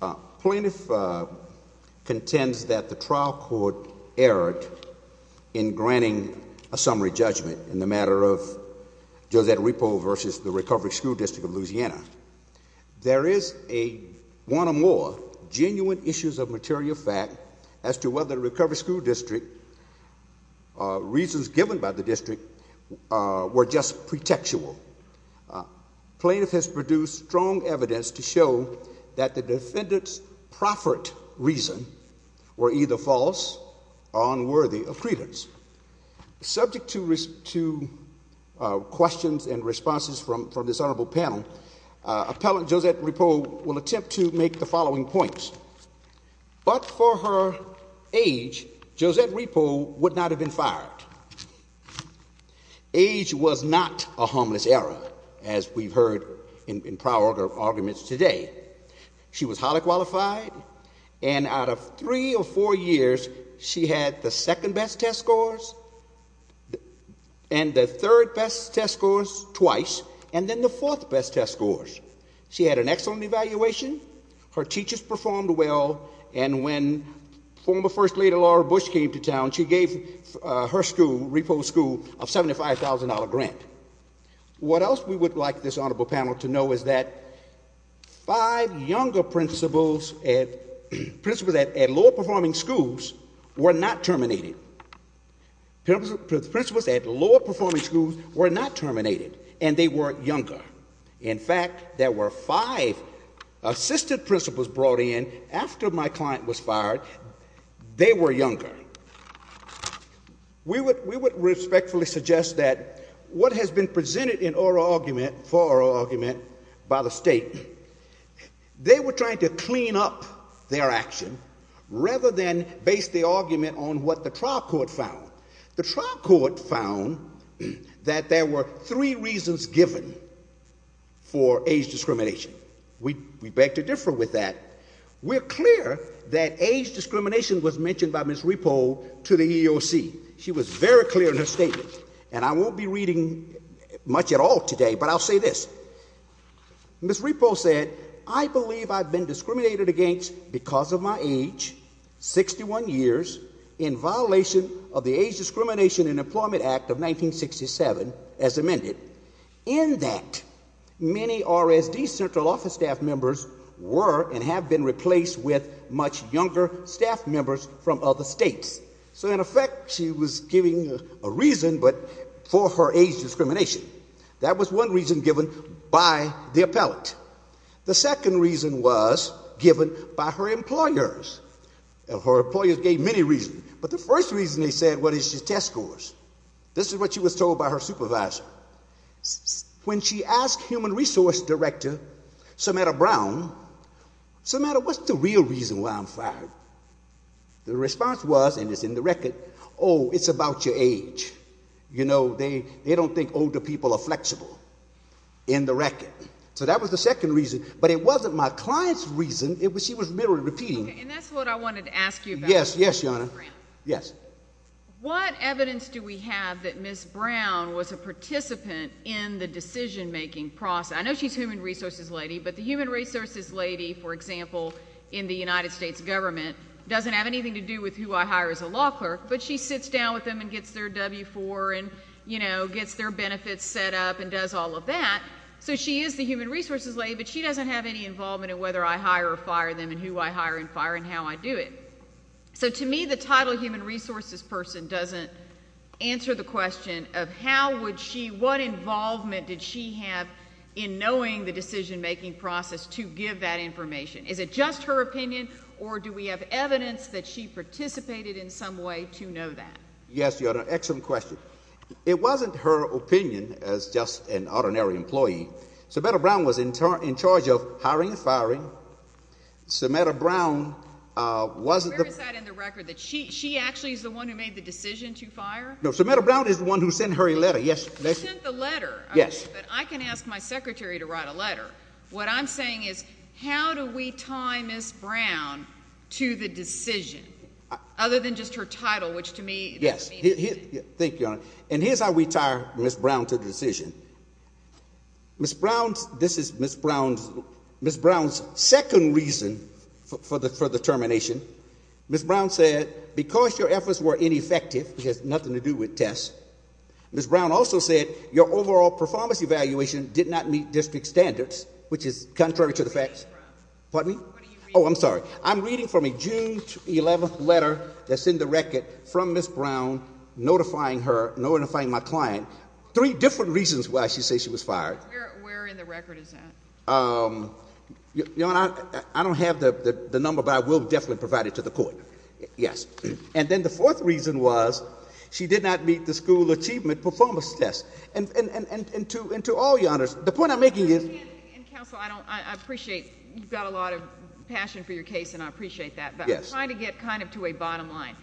The Plaintiff contends that the trial court erred in granting a summary judgment in the matter of Josette Ripoll v. the Recovery School District of Louisiana. There is one or more genuine issues of material fact as to whether the Recovery School District, reasons given by the district, were just pretextual. Plaintiff has produced strong evidence to show that the defendant's profferent reason were either false or unworthy of credence. Subject to questions and responses from this honorable panel, Appellant Josette Ripoll will attempt to make the following points. But for her age, Josette Ripoll would not have been fired. Age was not a harmless error, as we've heard in prior arguments today. She was highly qualified. And out of three or four years, she had the second-best test scores and the third-best test scores twice, and then the fourth-best test scores. She had an excellent evaluation. Her teachers performed well. And when former First Lady Laura Bush came to town, she gave her school, Ripoll's school, a $75,000 grant. What else we would like this honorable panel to know is that five younger principals at lower-performing schools were not terminated. Principals at lower-performing schools were not terminated, and they were younger. In fact, there were five assistant principals brought in after my client was fired. They were younger. We would respectfully suggest that what has been presented in oral argument, for oral argument, by the state, they were trying to clean up their action rather than base the argument on what the trial court found. The trial court found that there were three reasons given for age discrimination. We beg to differ with that. We're clear that age discrimination was mentioned by Ms. Ripoll to the EEOC. She was very clear in her statement, and I won't be reading much at all today, but I'll say this. Ms. Ripoll said, I believe I've been discriminated against because of my age, 61 years, in violation of the Age Discrimination in Employment Act of 1967, as amended. In that, many RSD central office staff members were and have been replaced with much younger staff members from other states. So, in effect, she was giving a reason but for her age discrimination. That was one reason given by the appellate. The second reason was given by her employers, and her employers gave many reasons. But the first reason they said, what is your test scores? This is what she was told by her supervisor. When she asked human resource director, Samantha Brown, Samantha, what's the real reason why I'm fired? The response was, and it's in the record, oh, it's about your age. You know, they don't think older people are flexible, in the record. So that was the second reason, but it wasn't my client's reason. She was merely repeating. Okay, and that's what I wanted to ask you about. Yes, yes, Your Honor. Brown. Yes. So, what evidence do we have that Ms. Brown was a participant in the decision-making process? I know she's human resources lady, but the human resources lady, for example, in the United States government, doesn't have anything to do with who I hire as a law clerk, but she sits down with them and gets their W-4 and, you know, gets their benefits set up and does all of that. So she is the human resources lady, but she doesn't have any involvement in whether I hire or fire them and who I hire and fire and how I do it. So, to me, the title human resources person doesn't answer the question of how would she, what involvement did she have in knowing the decision-making process to give that information. Is it just her opinion, or do we have evidence that she participated in some way to know that? Yes, Your Honor. Excellent question. It wasn't her opinion as just an ordinary employee. Samantha Brown was in charge of hiring and firing. Samantha Brown wasn't the... She actually is the one who made the decision to fire? No, Samantha Brown is the one who sent her a letter, yes. You sent the letter? Yes. Okay, but I can ask my secretary to write a letter. What I'm saying is, how do we tie Ms. Brown to the decision, other than just her title, which to me... Yes, thank you, Your Honor. And here's how we tie Ms. Brown to the decision. Ms. Brown's, second reason for the termination, Ms. Brown said, because your efforts were ineffective, which has nothing to do with tests, Ms. Brown also said your overall performance evaluation did not meet district standards, which is contrary to the facts. What are you reading from? Pardon me? What are you reading from? Oh, I'm sorry. I'm reading from a June 11th letter that's in the record from Ms. Brown, notifying her, notifying my client, three different reasons why she says she was fired. Where in the record is that? Your Honor, I don't have the number, but I will definitely provide it to the court. Yes. And then the fourth reason was, she did not meet the school achievement performance test. And to all your honors, the point I'm making is... Counsel, I appreciate you've got a lot of passion for your case, and I appreciate that, but I'm trying to get kind of to a bottom line.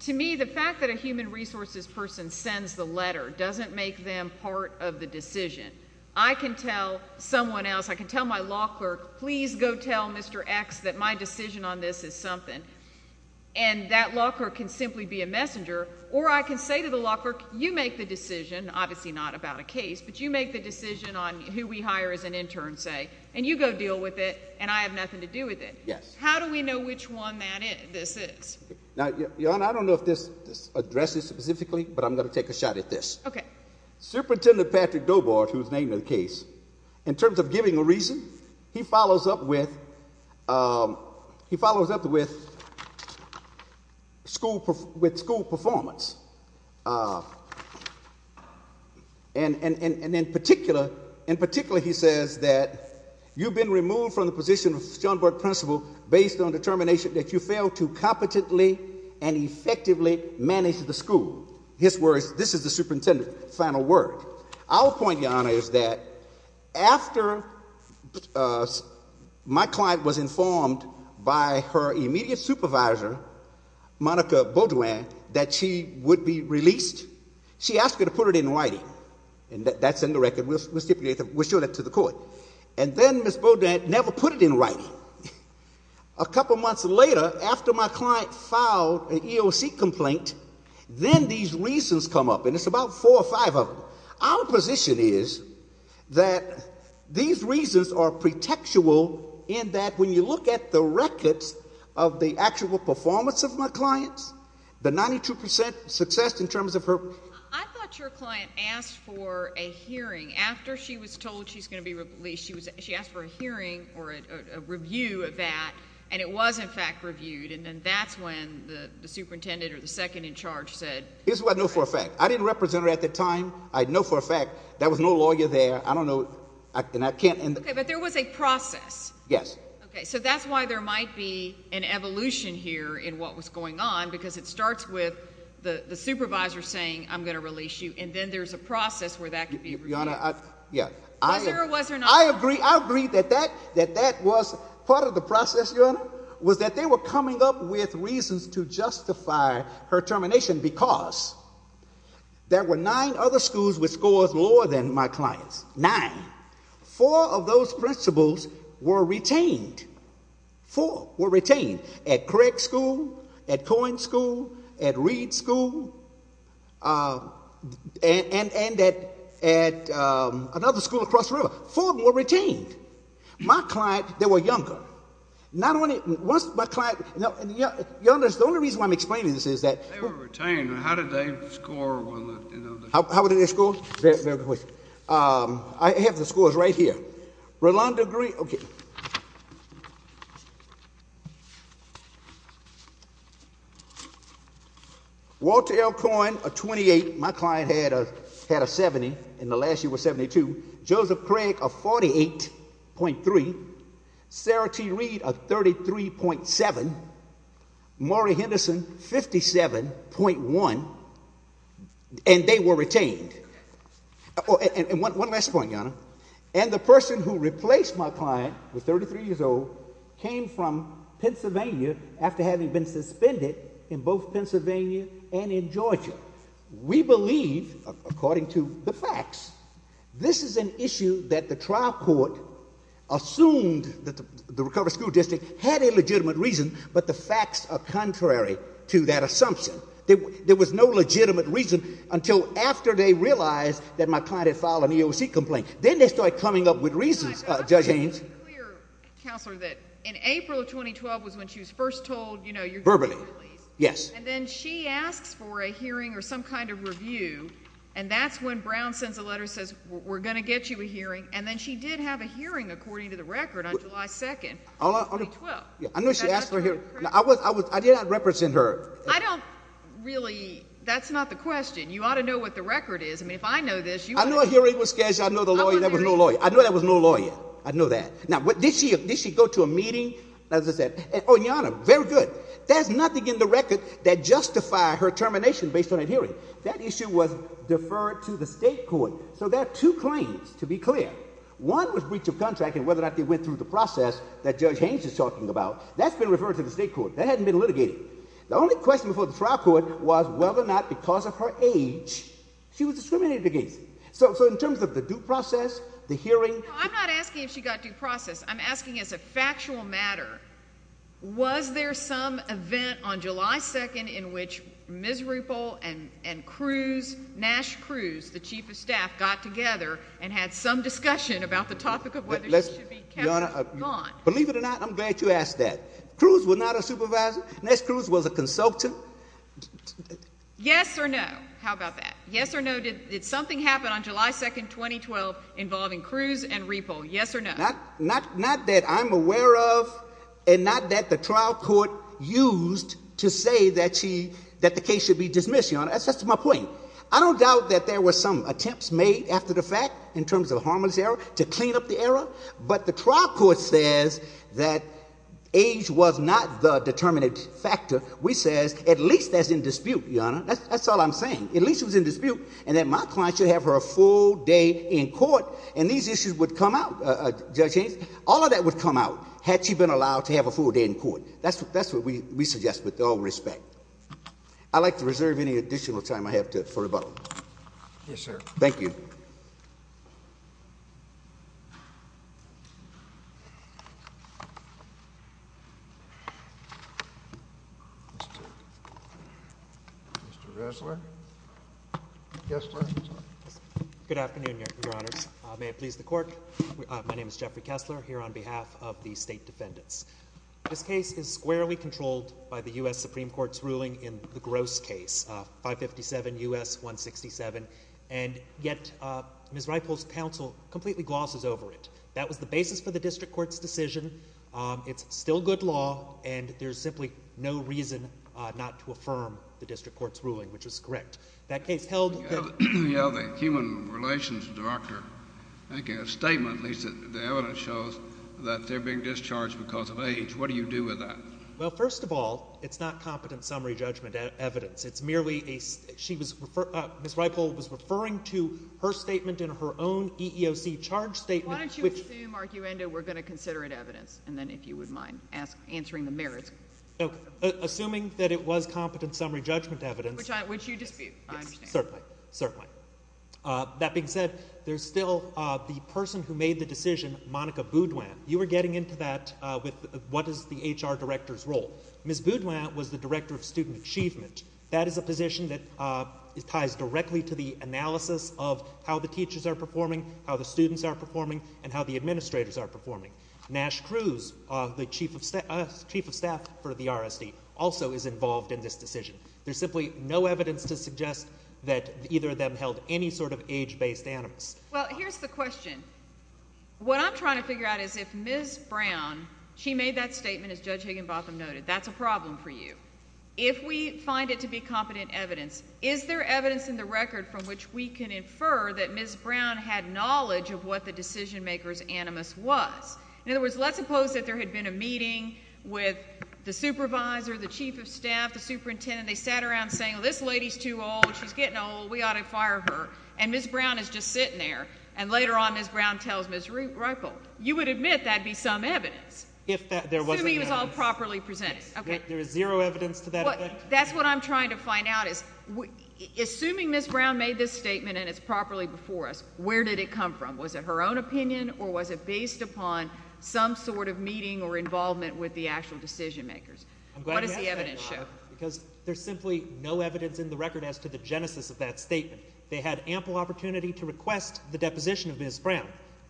To me, the fact that a human resources person sends the letter doesn't make them part of the decision. I can tell someone else, I can tell my law clerk, please go tell Mr. X that my decision on this is something, and that law clerk can simply be a messenger, or I can say to the law clerk, you make the decision, obviously not about a case, but you make the decision on who we hire as an intern, say, and you go deal with it, and I have nothing to do with it. Yes. How do we know which one this is? Now, your honor, I don't know if this addresses specifically, but I'm going to take a shot at this. Superintendent Patrick Dobart, whose name is in the case, in terms of giving a reason, he follows up with school performance. And in particular, he says that you've been removed from the position of Schoenberg principal based on determination that you failed to competently and effectively manage the school. His words, this is the superintendent's final word. Our point, your honor, is that after my client was informed by her immediate supervisor, Monica Beaudoin, that she would be released, she asked her to put it in writing. And that's in the record, we'll show that to the court. And then Ms. Beaudoin never put it in writing. A couple months later, after my client filed an EOC complaint, then these reasons come up, and it's about four or five of them. Our position is that these reasons are pretextual in that when you look at the records of the actual performance of my clients, the 92% success in terms of her... I thought your client asked for a hearing after she was told she's going to be released. She asked for a hearing or a review of that, and it was in fact reviewed, and that's when the superintendent or the second in charge said... Here's what I know for a fact. I didn't represent her at the time. I know for a fact there was no lawyer there. I don't know, and I can't... Okay, but there was a process. Yes. Okay, so that's why there might be an evolution here in what was going on, because it starts with the supervisor saying, I'm going to release you, and then there's a process where that can be reviewed. Was there or was there not? I agree that that was part of the process, Your Honor, was that they were coming up with reasons to justify her termination because there were nine other schools with scores lower than my client's. Nine. Four of those principals were retained. Four were retained. At Craig School, at Cohen School, at Reed School, and at another school across the river. Four were retained. My client, they were younger. Not only was my client... Your Honor, the only reason why I'm explaining this is that... They were retained. How did they score? How did they score? Very good question. I have the scores right here. Okay. Walter L. Cohen, a 28. My client had a 70, and the last year was 72. Joseph Craig, a 48.3. Sarah T. Reed, a 33.7. Maury Henderson, 57.1. And they were retained. And one last point, Your Honor. And the person who replaced my client, who was 33 years old, came from Pennsylvania after having been suspended in both Pennsylvania and in Georgia. We believe, according to the facts, this is an issue that the trial court assumed that the recovered school district had a legitimate reason, but the facts are contrary to that assumption. There was no legitimate reason until after they realized that my client had filed an EOC complaint. Then they started coming up with reasons, Judge Haynes. I just want to be clear, Counselor, that in April of 2012 was when she was first told, you know, you're getting released. Verbally, yes. And then she asks for a hearing or some kind of review, and that's when Brown sends a letter and says, we're going to get you a hearing. And then she did have a hearing, according to the record, on July 2nd of 2012. I know she asked for a hearing. I did not represent her. I don't really... You ought to know what the record is. I mean, if I know this, you ought to know. I know a hearing was scheduled. I know there was no lawyer. I know there was no lawyer. I know that. Now, did she go to a meeting? As I said... Oh, and Your Honor, very good. There's nothing in the record that justifies her termination based on a hearing. That issue was deferred to the state court. So there are two claims, to be clear. One was breach of contract and whether or not they went through the process that Judge Haynes is talking about. That's been referred to the state court. That hasn't been litigated. The only question before the trial court was whether or not because of her age she was discriminated against. So in terms of the due process, the hearing... No, I'm not asking if she got due process. I'm asking as a factual matter, was there some event on July 2nd in which Ms. Ruppel and Cruz, Nash Cruz, the chief of staff, got together and had some discussion about the topic of whether she should be kept or not? Believe it or not, I'm glad you asked that. Cruz was not a supervisor. Nash Cruz was a consultant. Yes or no? How about that? Yes or no? Did something happen on July 2nd, 2012 involving Cruz and Ruppel? Yes or no? Not that I'm aware of and not that the trial court used to say that the case should be dismissed, Your Honor. That's just my point. I don't doubt that there were some attempts made after the fact in terms of harmless error to clean up the error. But the trial court says that age was not the determinate factor. We says at least as in dispute, Your Honor. That's all I'm saying. At least it was in dispute and that my client should have her full day in court and these issues would come out, Judge Haynes, all of that would come out had she been allowed to have a full day in court. That's what we suggest with all respect. I'd like to reserve any additional time I have for rebuttal. Yes, sir. Thank you. Mr. Kessler? Good afternoon, Your Honors. May it please the court. My name is Jeffrey Kessler here on behalf of the State Defendants. This case is squarely controlled by the U.S. Supreme Court's ruling in the Gross case, 557 U.S. 167. And yet, Ms. Reiple's counsel completely glosses over it. That was the basis for the district court's decision. It's still good law and there's simply no reason not to affirm the district court's ruling, which is correct. That case held the- Yeah, the human relations doctor, I think in a statement at least, the evidence shows that they're being discharged because of age. What do you do with that? Well, first of all, it's not competent summary judgment evidence. It's merely a- she was- Ms. Reiple was referring to her statement in her own EEOC charge statement, which- Why don't you assume arguendo we're going to consider it evidence, and then if you would mind answering the merits. Okay. Assuming that it was competent summary judgment evidence- Which you dispute, I understand. Yes, certainly. Certainly. That being said, there's still the person who made the decision, Monica Boudoin. You were getting into that with what is the HR director's role. Ms. Boudoin was the director of student achievement. That is a position that ties directly to the analysis of how the teachers are performing, how the students are performing, and how the administrators are performing. Nash Cruz, the chief of staff for the RSD, also is involved in this decision. There's simply no evidence to suggest that either of them held any sort of age-based animus. Well, here's the question. What I'm trying to figure out is if Ms. Brown, she made that statement, as Judge Higginbotham noted, that's a problem for you. If we find it to be competent evidence, is there evidence in the record from which we can infer that Ms. Brown had knowledge of what the decision-maker's animus was? In other words, let's suppose that there had been a meeting with the supervisor, the chief of staff, the superintendent. They sat around saying, well, this lady's too old. She's getting old. We ought to fire her. And Ms. Brown is just sitting there. And later on, Ms. Brown tells Ms. Reupel, you would admit that'd be some evidence. If there wasn't any evidence. Assuming it was all properly presented. There is zero evidence to that effect. That's what I'm trying to find out is, assuming Ms. Brown made this statement and it's properly before us, where did it come from? Was it her own opinion or was it based upon some sort of meeting or involvement with the actual decision-makers? What does the evidence show? Because there's simply no evidence in the record as to the genesis of that statement. They had ample opportunity to request the deposition of Ms. Brown.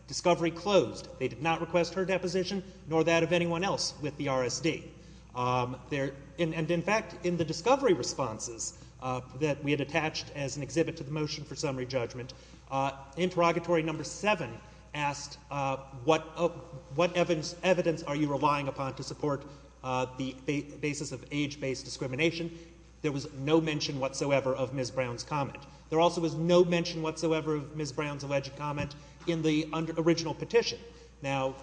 Discovery closed. They did not request her deposition nor that of Ms. Brown. And in fact, in the discovery responses that we had attached as an exhibit to the motion for summary judgment, interrogatory number seven asked, what evidence are you relying upon to support the basis of age-based discrimination? There was no mention whatsoever of Ms. Brown's comment. There also was no mention whatsoever of Ms. Brown's alleged comment in the original petition. Now,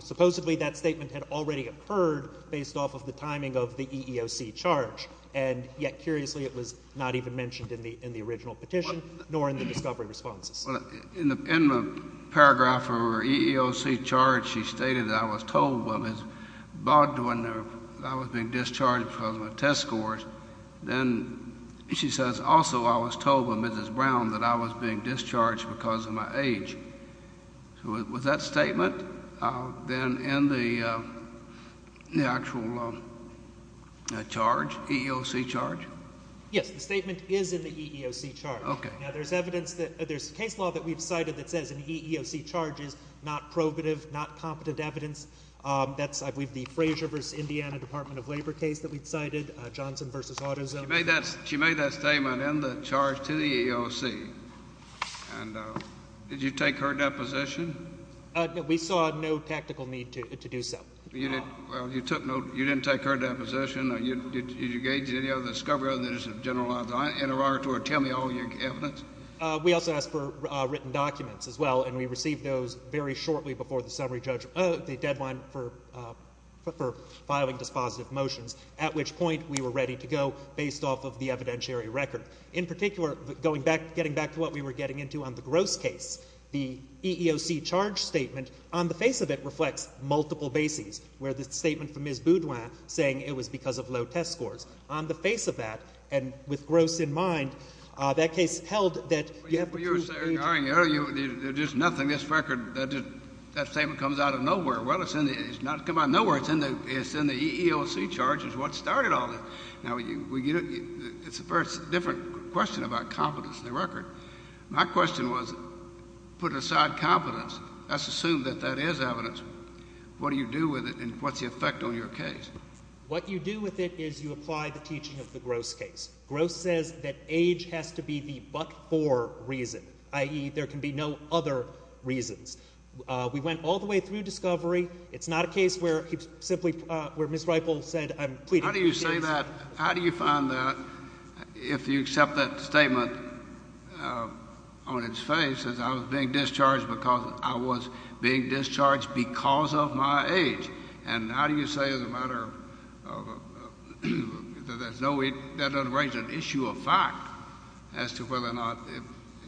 supposedly that statement had already occurred based off of the timing of the EEOC charge. And yet, curiously, it was not even mentioned in the original petition nor in the discovery responses. In the paragraph for EEOC charge, she stated that I was told by Ms. Baldwin that I was being discharged because of my test scores. Then she says, also, I was told by Mrs. Brown that I was being discharged because of my age. So was that statement then in the actual charge, EEOC charge? Yes. The statement is in the EEOC charge. Okay. Now, there's evidence that there's case law that we've cited that says an EEOC charge is not probative, not competent evidence. That's, I believe, the Fraser v. Indiana Department of Labor case that we've cited, Johnson v. AutoZone. She made that statement in the charge to the EEOC. And did you take her deposition? We saw no technical need to do so. Well, you took no, you didn't take her deposition. Did you engage in any other discovery other than just a generalized interrogatory, tell me all your evidence? We also asked for written documents as well, and we received those very shortly before the summary judgment, the deadline for filing dispositive motions, at which point we were ready to go based off of the evidentiary record. In particular, going back, getting back to what we were getting into on the Gross case, the EEOC charge statement, on the face of it reflects multiple bases, where the statement from Ms. Boudoin saying it was because of low test scores. On the face of that, and with Gross in mind, that case held that you have the truth. Well, you were saying, there's nothing, this record, that statement comes out of nowhere. Well, it's not come out of nowhere, it's in the EEOC charge is what started all this. Now, it's a very different question about competence in the record. My question was, put aside competence, let's assume that that is evidence. What do you do with it, and what's the effect on your case? What you do with it is you apply the teaching of the Gross case. Gross says that age has to be the but-for reason, i.e., there can be no other reasons. We went all the way through discovery. It's not a case where he simply, where Ms. Gossett, how do you find that if you accept that statement on its face as I was being discharged because I was being discharged because of my age? And how do you say as a matter of, that doesn't raise an issue of fact as to whether or not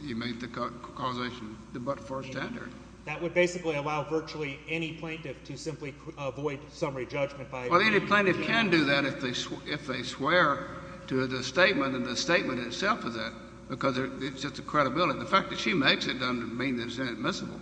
you made the causation the but-for standard? That would basically allow virtually any plaintiff to simply avoid summary judgment by any plaintiff. They can do that if they swear to the statement, and the statement itself is it, because it's just a credibility. The fact that she makes it doesn't mean that it's admissible.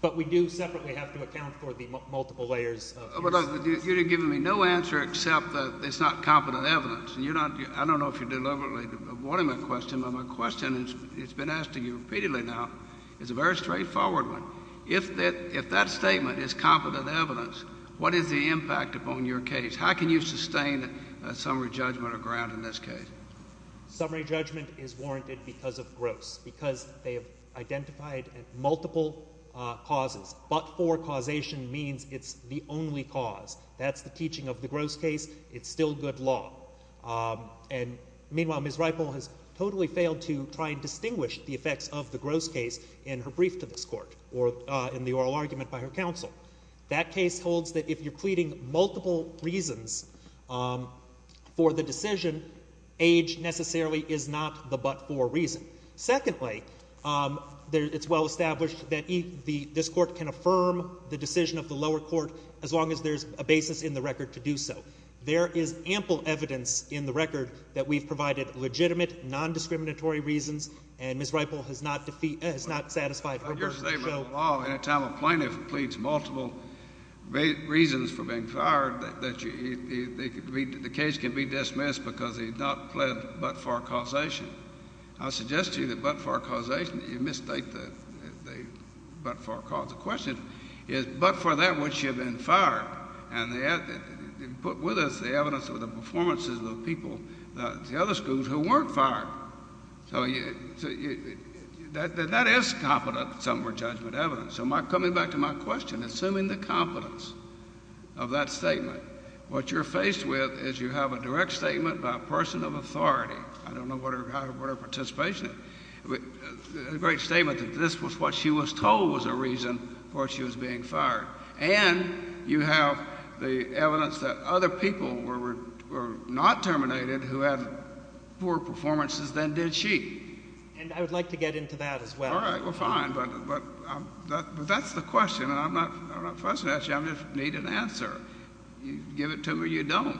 But we do separately have to account for the multiple layers of evidence. You're giving me no answer except that it's not competent evidence. And you're not, I don't know if you're deliberately avoiding my question, but my question has been asked to you repeatedly now. It's a very straightforward one. If that statement is competent evidence, what is the impact upon your case? How can you sustain a summary judgment or grant in this case? Summary judgment is warranted because of gross, because they have identified multiple causes. But-for causation means it's the only cause. That's the teaching of the gross case. It's still good law. And meanwhile, Ms. Ripoll has totally failed to try and distinguish the effects of the gross case in her brief to this Court, or in the oral argument by her counsel. That case holds that if you're pleading multiple reasons for the decision, age necessarily is not the but-for reason. Secondly, it's well established that this Court can affirm the decision of the lower court as long as there's a basis in the record to do so. There is ample evidence in the record that we've provided legitimate, non-discriminatory reasons. And Ms. Ripoll has not satisfied her version of the show. It's still law. Any time a plaintiff pleads multiple reasons for being fired, the case can be dismissed because he's not pled but-for causation. I suggest to you that but-for causation, you misstate the but-for cause. The question is, but for that which you've been fired. And they put with us the evidence of the performances of the people, the other schools, who weren't fired. So that is competent somewhere judgment evidence. So coming back to my question, assuming the competence of that statement, what you're faced with is you have a direct statement by a person of authority. I don't know what her participation is. A great statement that this was what she was told was a reason for she was being fired. And you have the evidence that other people were not terminated who had poor performances than did she. And I would like to get into that as well. All right. We're fine. But that's the question. And I'm not fussing at you. I just need an answer. You give it to me or you don't.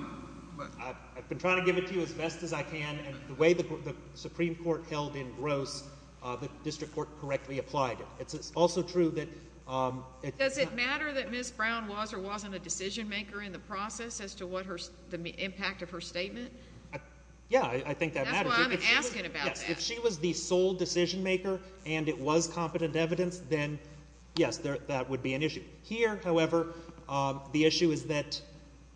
I've been trying to give it to you as best as I can. And the way the Supreme Court held in gross, the district court correctly applied it. It's also true that- Does it matter that Ms. Brown was or wasn't a decision maker in the process as to what the impact of her statement? Yeah. I think that matters. That's why I'm asking about that. If she was the sole decision maker and it was competent evidence, then yes, that would be an issue. Here, however, the issue is that-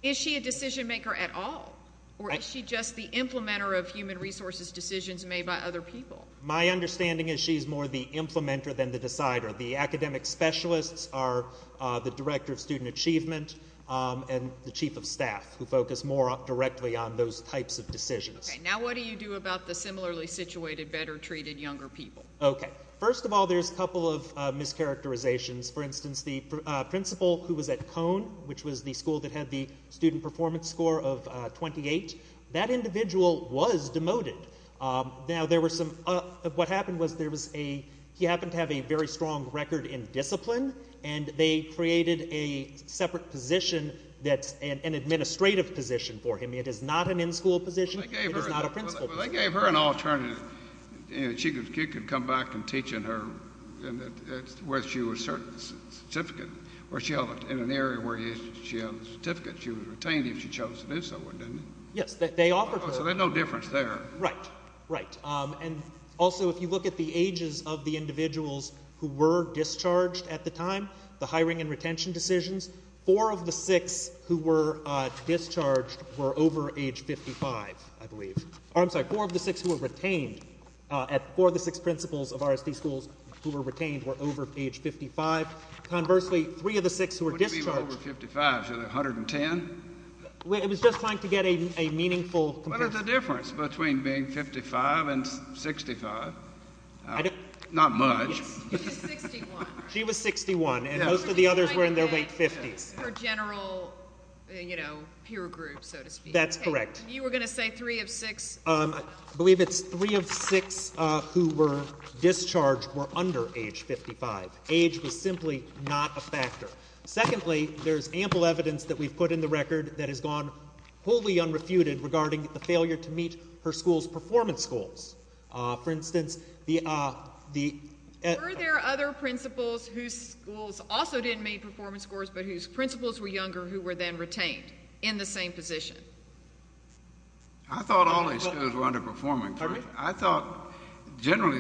Is she a decision maker at all? Or is she just the implementer of human resources decisions made by other people? My understanding is she's more the implementer than the decider. The academic specialists are the director of student achievement and the chief of staff who focus more directly on those types of decisions. Okay. Now what do you do about the similarly situated, better treated younger people? Okay. First of all, there's a couple of mischaracterizations. For instance, the principal who was at Cone, which was the school that had the student performance score of 28, that individual was demoted. Now, there were some- What happened was there was a- He happened to have a very strong record in discipline and they created a separate position that's an administrative position for him. It is not an in-school position. It is not a principal position. They gave her an alternative. She could come back and teach in her- where she was cert- certificate. Where she had an area where she had a certificate. She was retained if she chose to do so, wasn't she? Yes. They offered her- So there's no difference there. Right. Right. And also, if you look at the ages of the individuals who were discharged at the time, the hiring and retention decisions, four of the six who were retained were over age 55, I believe. I'm sorry. Four of the six who were retained at- four of the six principals of RSD schools who were retained were over age 55. Conversely, three of the six who were discharged- What do you mean by over 55? Is it 110? It was just trying to get a meaningful comparison. What is the difference between being 55 and 65? I don't- Not much. She was 61. She was 61. their late 50s. They were just trying to get her general, you know, peer group, so to speak. That's correct. They were just trying to get her general, you know, peer group, That's correct. You were going to say three of six- I believe it's three of six who were discharged were under age 55. Age was simply not a factor. Secondly, there's ample evidence that we've put in the record that has gone wholly unrefuted regarding the failure to meet her school's performance goals. For instance, the- younger who were then retained in the same position? No. No. No. No. No. No. No. No. No. No. I thought all these schools were underperforming first. I thought generally,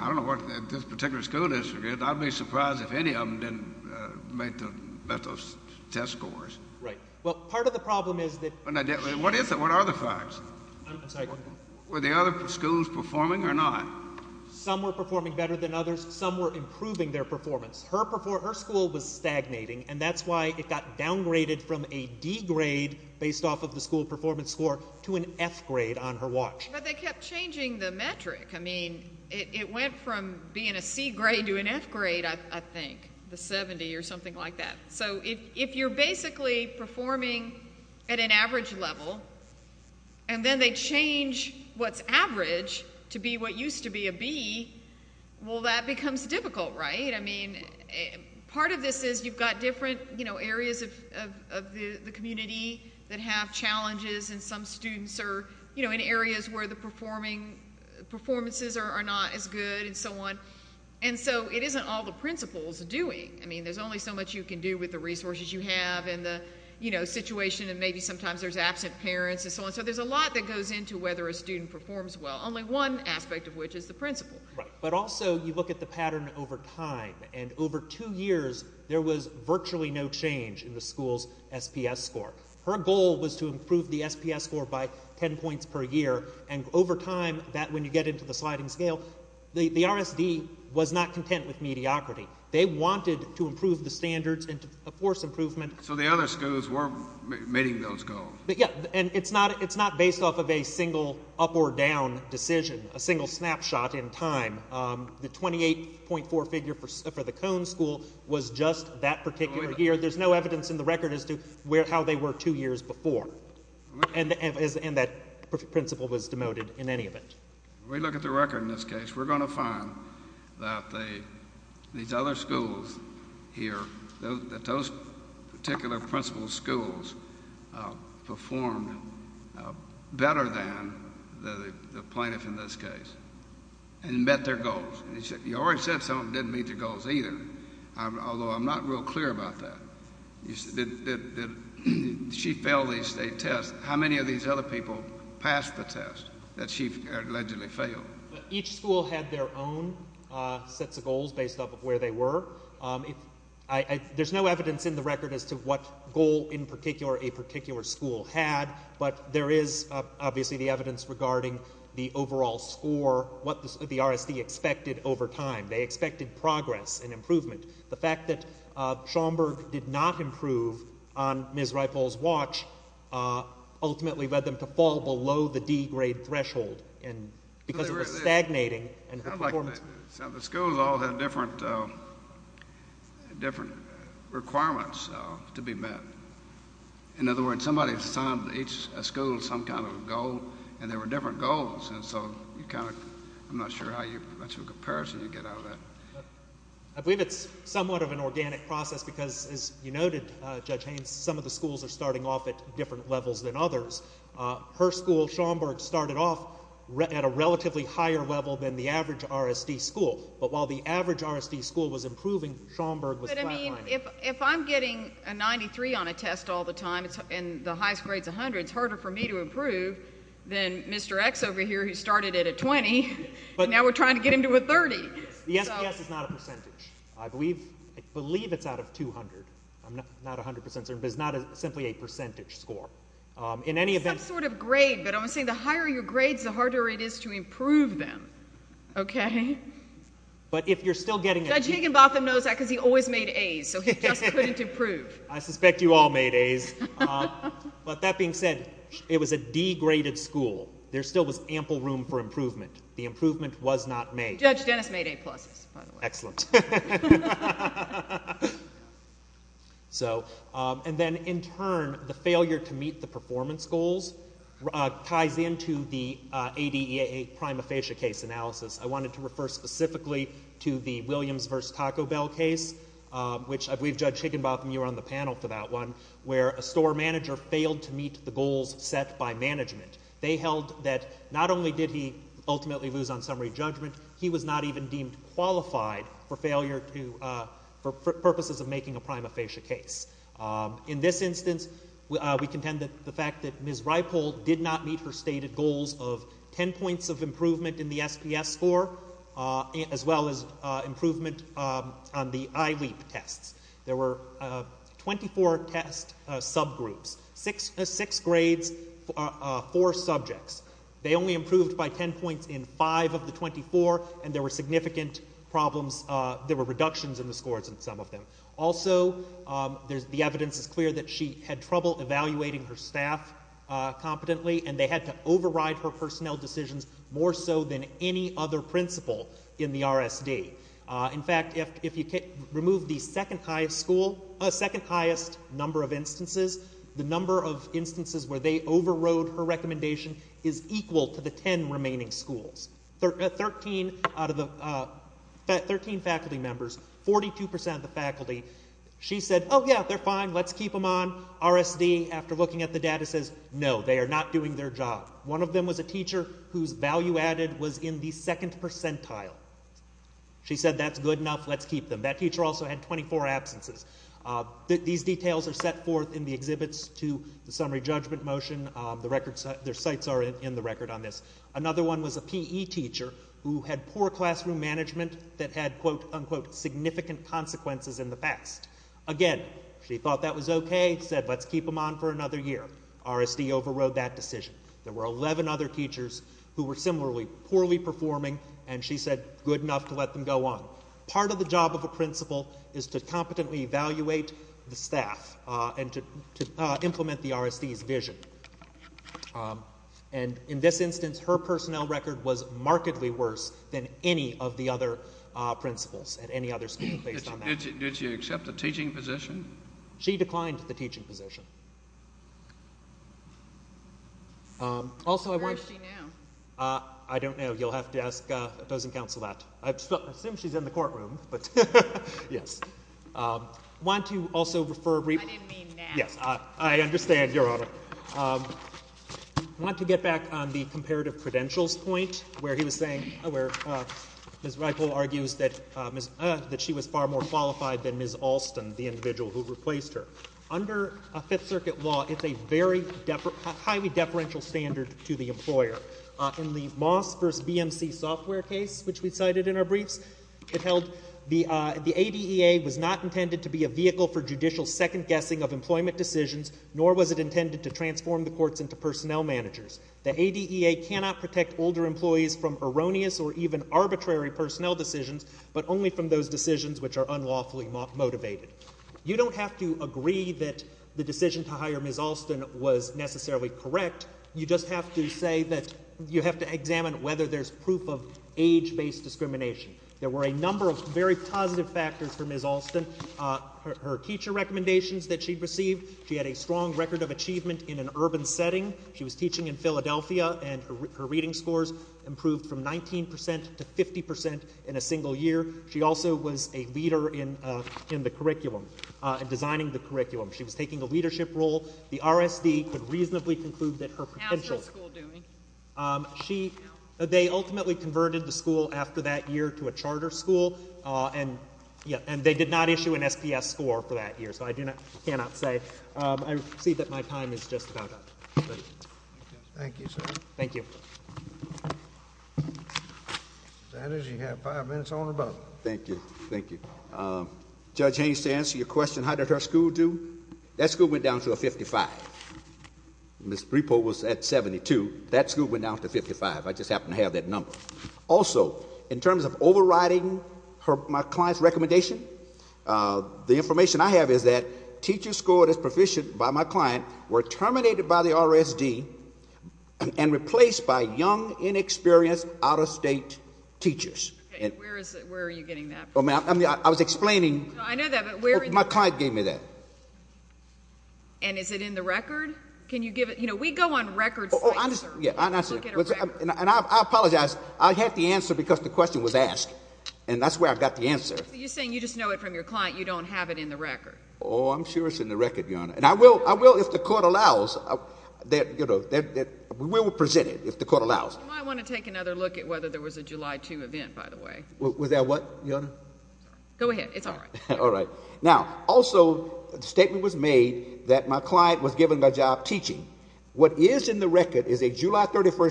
I don't know what this particular school district is. I'd be surprised if any of them didn't make the best of test scores. Right. Well, part of the problem is that- What is it? What are the facts? Were the other schools performing or not? Some were performing better than others. Some were improving their performance. Her school was stagnating, and that's why it got downgraded from a degrade based off of the school performance score to an F grade on her watch. But they kept changing the metric. I mean, it went from being a C grade to an F grade, I think, the 70 or something like that. So, if you're basically performing at an average level, and then they change what's average to be what used to be a B, well, that becomes difficult, right? I mean, part of this is you've got different, you know, areas of the community that have challenges, and some students are, you know, in areas where the performances are not as good, and so on. And so, it isn't all the principals doing. I mean, there's only so much you can do with the resources you have and the, you know, situation, and maybe sometimes there's absent parents and so on. So, there's a lot that goes into whether a student performs well, only one aspect of which is the principal. Right. But also, you look at the pattern over time, and over two years, there was virtually no change in the school's SPS score. Her goal was to improve the SPS score by ten points per year, and over time, that, when you get into the sliding scale, the RSD was not content with mediocrity. They wanted to improve the standards and to force improvement. So, the other schools weren't meeting those goals. Yeah. And it's not based off of a single up or down decision, a single snapshot in time. The 28.4 figure for the Cone School was just that particular year. There's no evidence in the record that it was over two years before. And that principal was demoted in any event. When we look at the record in this case, we're going to find that these other schools here, that those particular principal schools performed better than the plaintiff in this case and met their goals. You already said some of them didn't meet their goals either, although I'm not real clear about that. She failed the state test. How many of these other people passed the test that she allegedly failed? Each school had their own sets of goals based off of where they were. There's no evidence in the record as to what goal in particular a particular school had, but there is obviously the evidence regarding the overall score, what the RSD expected over time. They expected progress and improvement. The fact that Schaumburg did not improve on Ms. Rifle's watch ultimately led them to fall below the D grade threshold because of the stagnating performance. The schools all had different requirements to be met. In other words, somebody assigned each school some kind of goal and there were different goals. I'm not sure how much of a comparison you get out of that. I believe it's somewhat of an organic process because, as you noted, Judge Haynes, some of the schools are starting off at different levels than others. Her school, Schaumburg, started off at a relatively higher level than the average RSD school, but while the average RSD school was improving, Schaumburg was flatlining. But, I mean, if I'm getting a 93 on a test all the time and the highest grade's a 100, it's harder for me to improve than Mr. X over here who started at a 20 and now we're trying to get him to a 30. The SPS is not a percentage. I believe it's out of 200. I'm not 100% certain, but it's not simply a percentage score. In any event... Some sort of grade, but I'm saying the higher your grades, the harder it is to improve them, okay? But if you're still getting... Judge Higginbotham knows that because he always made A's, so he just couldn't improve. I suspect you all made A's. But that being said, it was a degraded school. There still was ample room for improvement. The improvement was not made. Judge Dennis made A pluses, by the way. Excellent. So, and then in turn, the failure to meet the performance goals ties into the ADEA prima facie case analysis. I wanted to refer specifically to the Williams v. Taco Bell case, which I believe Judge Higginbotham, you were on the panel for that one, where a store manager failed to meet the goals set by management. They held that not only did he ultimately lose on summary judgment, he was not even deemed qualified for performance And so that was a failure for purposes of making a prima facie case. In this instance, we contend that the fact that Ms. Reipol did not meet her stated goals of ten points of improvement in the SPS score, as well as improvement on the ILEAP tests. There were 24 test subgroups, six grades, four subjects. They only improved by ten points in five of the 24, and there were significant problems. There were reductions in the scores in some of them. Also, the evidence is clear that she had trouble evaluating her staff competently, and they had to override her personnel decisions more so than any other principal in the RSD. In fact, if you remove the second highest school, second highest number of instances, the number of instances where they overrode her recommendation is equal to the ten remaining schools. Out of the 13 faculty members, 42% of the faculty, she said, oh, yeah, they're fine, let's keep them on. RSD, after looking at the data, says, no, they are not doing their job. One of them was a teacher whose value added was in the second percentile. She said, that's good enough, let's keep them. That teacher also had 24 absences. These details are set forth in the exhibits to the summary judgment motion. Their sites are in the record on this. Another one was a PE teacher who had poor classroom management that had, quote, unquote, significant consequences in the past. Again, she thought that was okay, said, let's keep them on for another year. RSD overrode that decision. There were 11 other teachers who were similarly poorly performing, and she said, good enough to let them go on. Part of the job of a principal is to competently evaluate the staff and to implement the RSD's vision. And in this instance, her personnel record was markedly worse than any of the other principals at any other school based on that. Did she accept the teaching position? She declined the teaching position. Where is she now? I don't know. You'll have to ask opposing counsel that. I assume she's in the courtroom, but yes. Why don't you also refer... I didn't mean now. Yes, I understand, Your Honor. I want to get back on the comparative credentials point where he was saying, where Ms. Ripoll argues that she was far more qualified than Ms. Alston, the individual who replaced her. Under Fifth Circuit law, it's a very highly deferential standard to the employer. In the Moss v. BMC software case, which we cited in our briefs, it held the ADEA was not intended to be a vehicle for judicial second-guessing of employment decisions, nor was it intended to transform the courts into personnel managers. The ADEA cannot protect older employees from erroneous or even arbitrary personnel decisions, but only from those decisions which are unlawfully motivated. You don't have to agree that the decision to hire Ms. Alston was necessarily correct. You just have to say that you have to examine whether there's proof of age-based discrimination. There were a number of very positive factors for Ms. Alston. Her teacher recommendations that she received, she had a strong record of achievement in an urban setting. She was teaching in Philadelphia, and her reading scores improved from 19% to 50% in a single year. She also was a leader in the curriculum, designing the curriculum. She was taking a leadership role. The RSD could reasonably conclude that her potential... How is her school doing? They ultimately converted the school after that year to a charter school, and they did not issue an SPS score for that year, so I cannot say. I see that my time is just about up. Thank you, sir. Thank you. Mr. Sanders, you have five minutes on the button. Thank you. Thank you. Judge Haynes, to answer your question, how did her school do? That school went down to a 55. Ms. Brepo was at 72. That school went down to a 55. I just happened to have that number. Also, in terms of overriding my client's recommendation, the information I have is that teachers scored as proficient by my client were terminated by the RSD and replaced by young, inexperienced, out-of-state teachers. Okay. Where are you getting that from? I was explaining... I know that, but where are you... My client gave me that. And is it in the record? Can you give it... You know, we go on record sites, sir. I apologize. I had the answer because the question was asked, and that's where I got the answer. You're saying you just know it from your client. You don't have it in the record. Oh, I'm sure it's in the record, Your Honor. And I will if the court allows. We will present it if the court allows it. You might want to take another look at whether there was a July 2 event, by the way. Was that what, Your Honor? Go ahead. It's all right. All right. Now, also, the statement was made that my client was given the job teaching. What is in the record is a July 31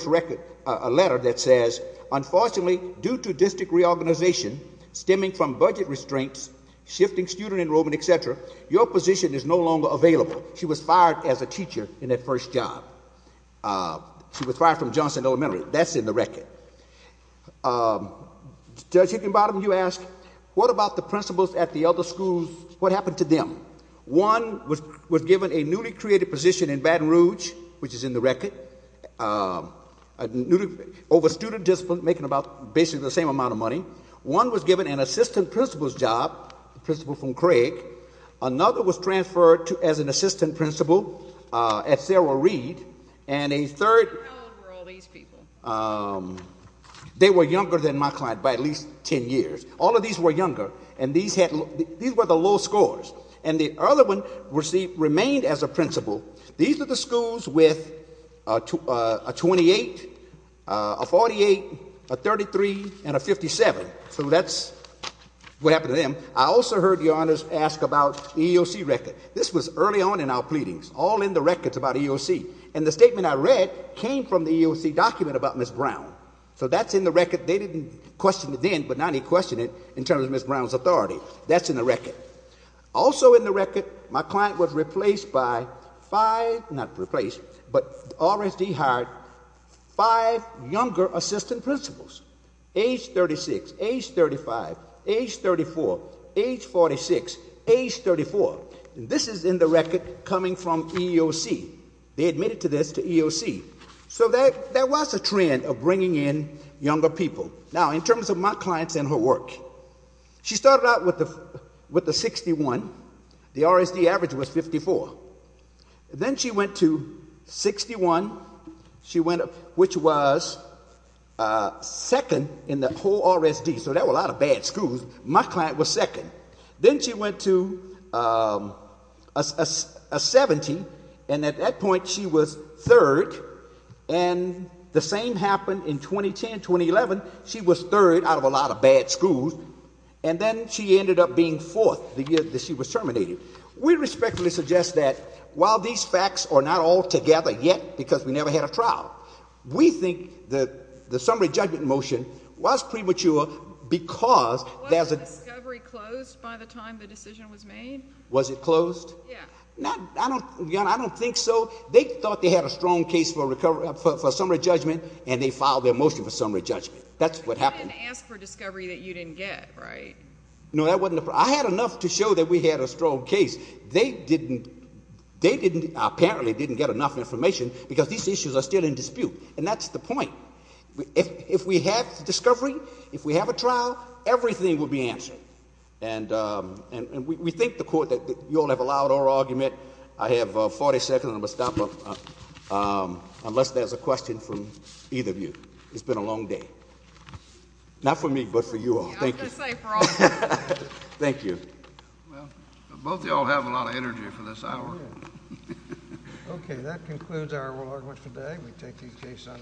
letter that says, Unfortunately, due to district reorganization stemming from budget restraints, shifting student enrollment, et cetera, your position is no longer available. She was fired as a teacher in that first job. She was fired from Johnson Elementary. That's in the record. Judge Higginbottom, you ask, What about the principals at the other schools? What happened to them? One was given a newly created position in Baton Rouge, which is in the record, over student discipline, making about basically the same amount of money. One was given an assistant principal's job, principal from Craig. Another was transferred as an assistant principal at Sarah Reed. And a third... How old were all these people? They were younger than my client by at least ten years. All of these were younger, and these were the low scores. And the other one remained as a principal. These are the schools with a 28, a 48, a 33, and a 57. So that's what happened to them. I also heard your Honor ask about the EEOC record. This was early on in our pleadings, all in the records about EEOC. And the statement I read came from the EEOC document about Ms. Brown. So that's in the record. They didn't question it then, but now they question it in terms of Ms. Brown's authority. That's in the record. Also in the record, my client was replaced by five... Not replaced, but RSD hired five younger assistant principals, age 36, age 35, age 34, age 46, age 34. This is in the record coming from EEOC. They admitted to this to EEOC. So that was a trend of bringing in younger people. Now, in terms of my clients and her work, she started out with the 61. The RSD average was 54. Then she went to 61, which was second in the whole RSD. So there were a lot of bad schools. My client was second. Then she went to a 70, and at that point she was third. And the same happened in 2010, 2011. She was third out of a lot of bad schools. And then she ended up being fourth the year that she was terminated. We respectfully suggest that while these facts are not all together yet because we never had a trial, we think that the summary judgment motion was premature because there's a Was the discovery closed by the time the decision was made? Was it closed? Yeah. I don't think so. They thought they had a strong case for summary judgment, and they filed their motion for summary judgment. That's what happened. But you didn't ask for discovery that you didn't get, right? No, that wasn't the problem. I had enough to show that we had a strong case. They apparently didn't get enough information because these issues are still in dispute. And that's the point. If we have discovery, if we have a trial, everything will be answered. And we think the court that you all have allowed oral argument, I have 40 seconds, and I'm going to stop unless there's a question from either of you. It's been a long day. Not for me, but for you all. Thank you. I was going to say, for all of us. Thank you. Well, both of y'all have a lot of energy for this hour. Okay. That concludes our oral argument today. We take these cases on as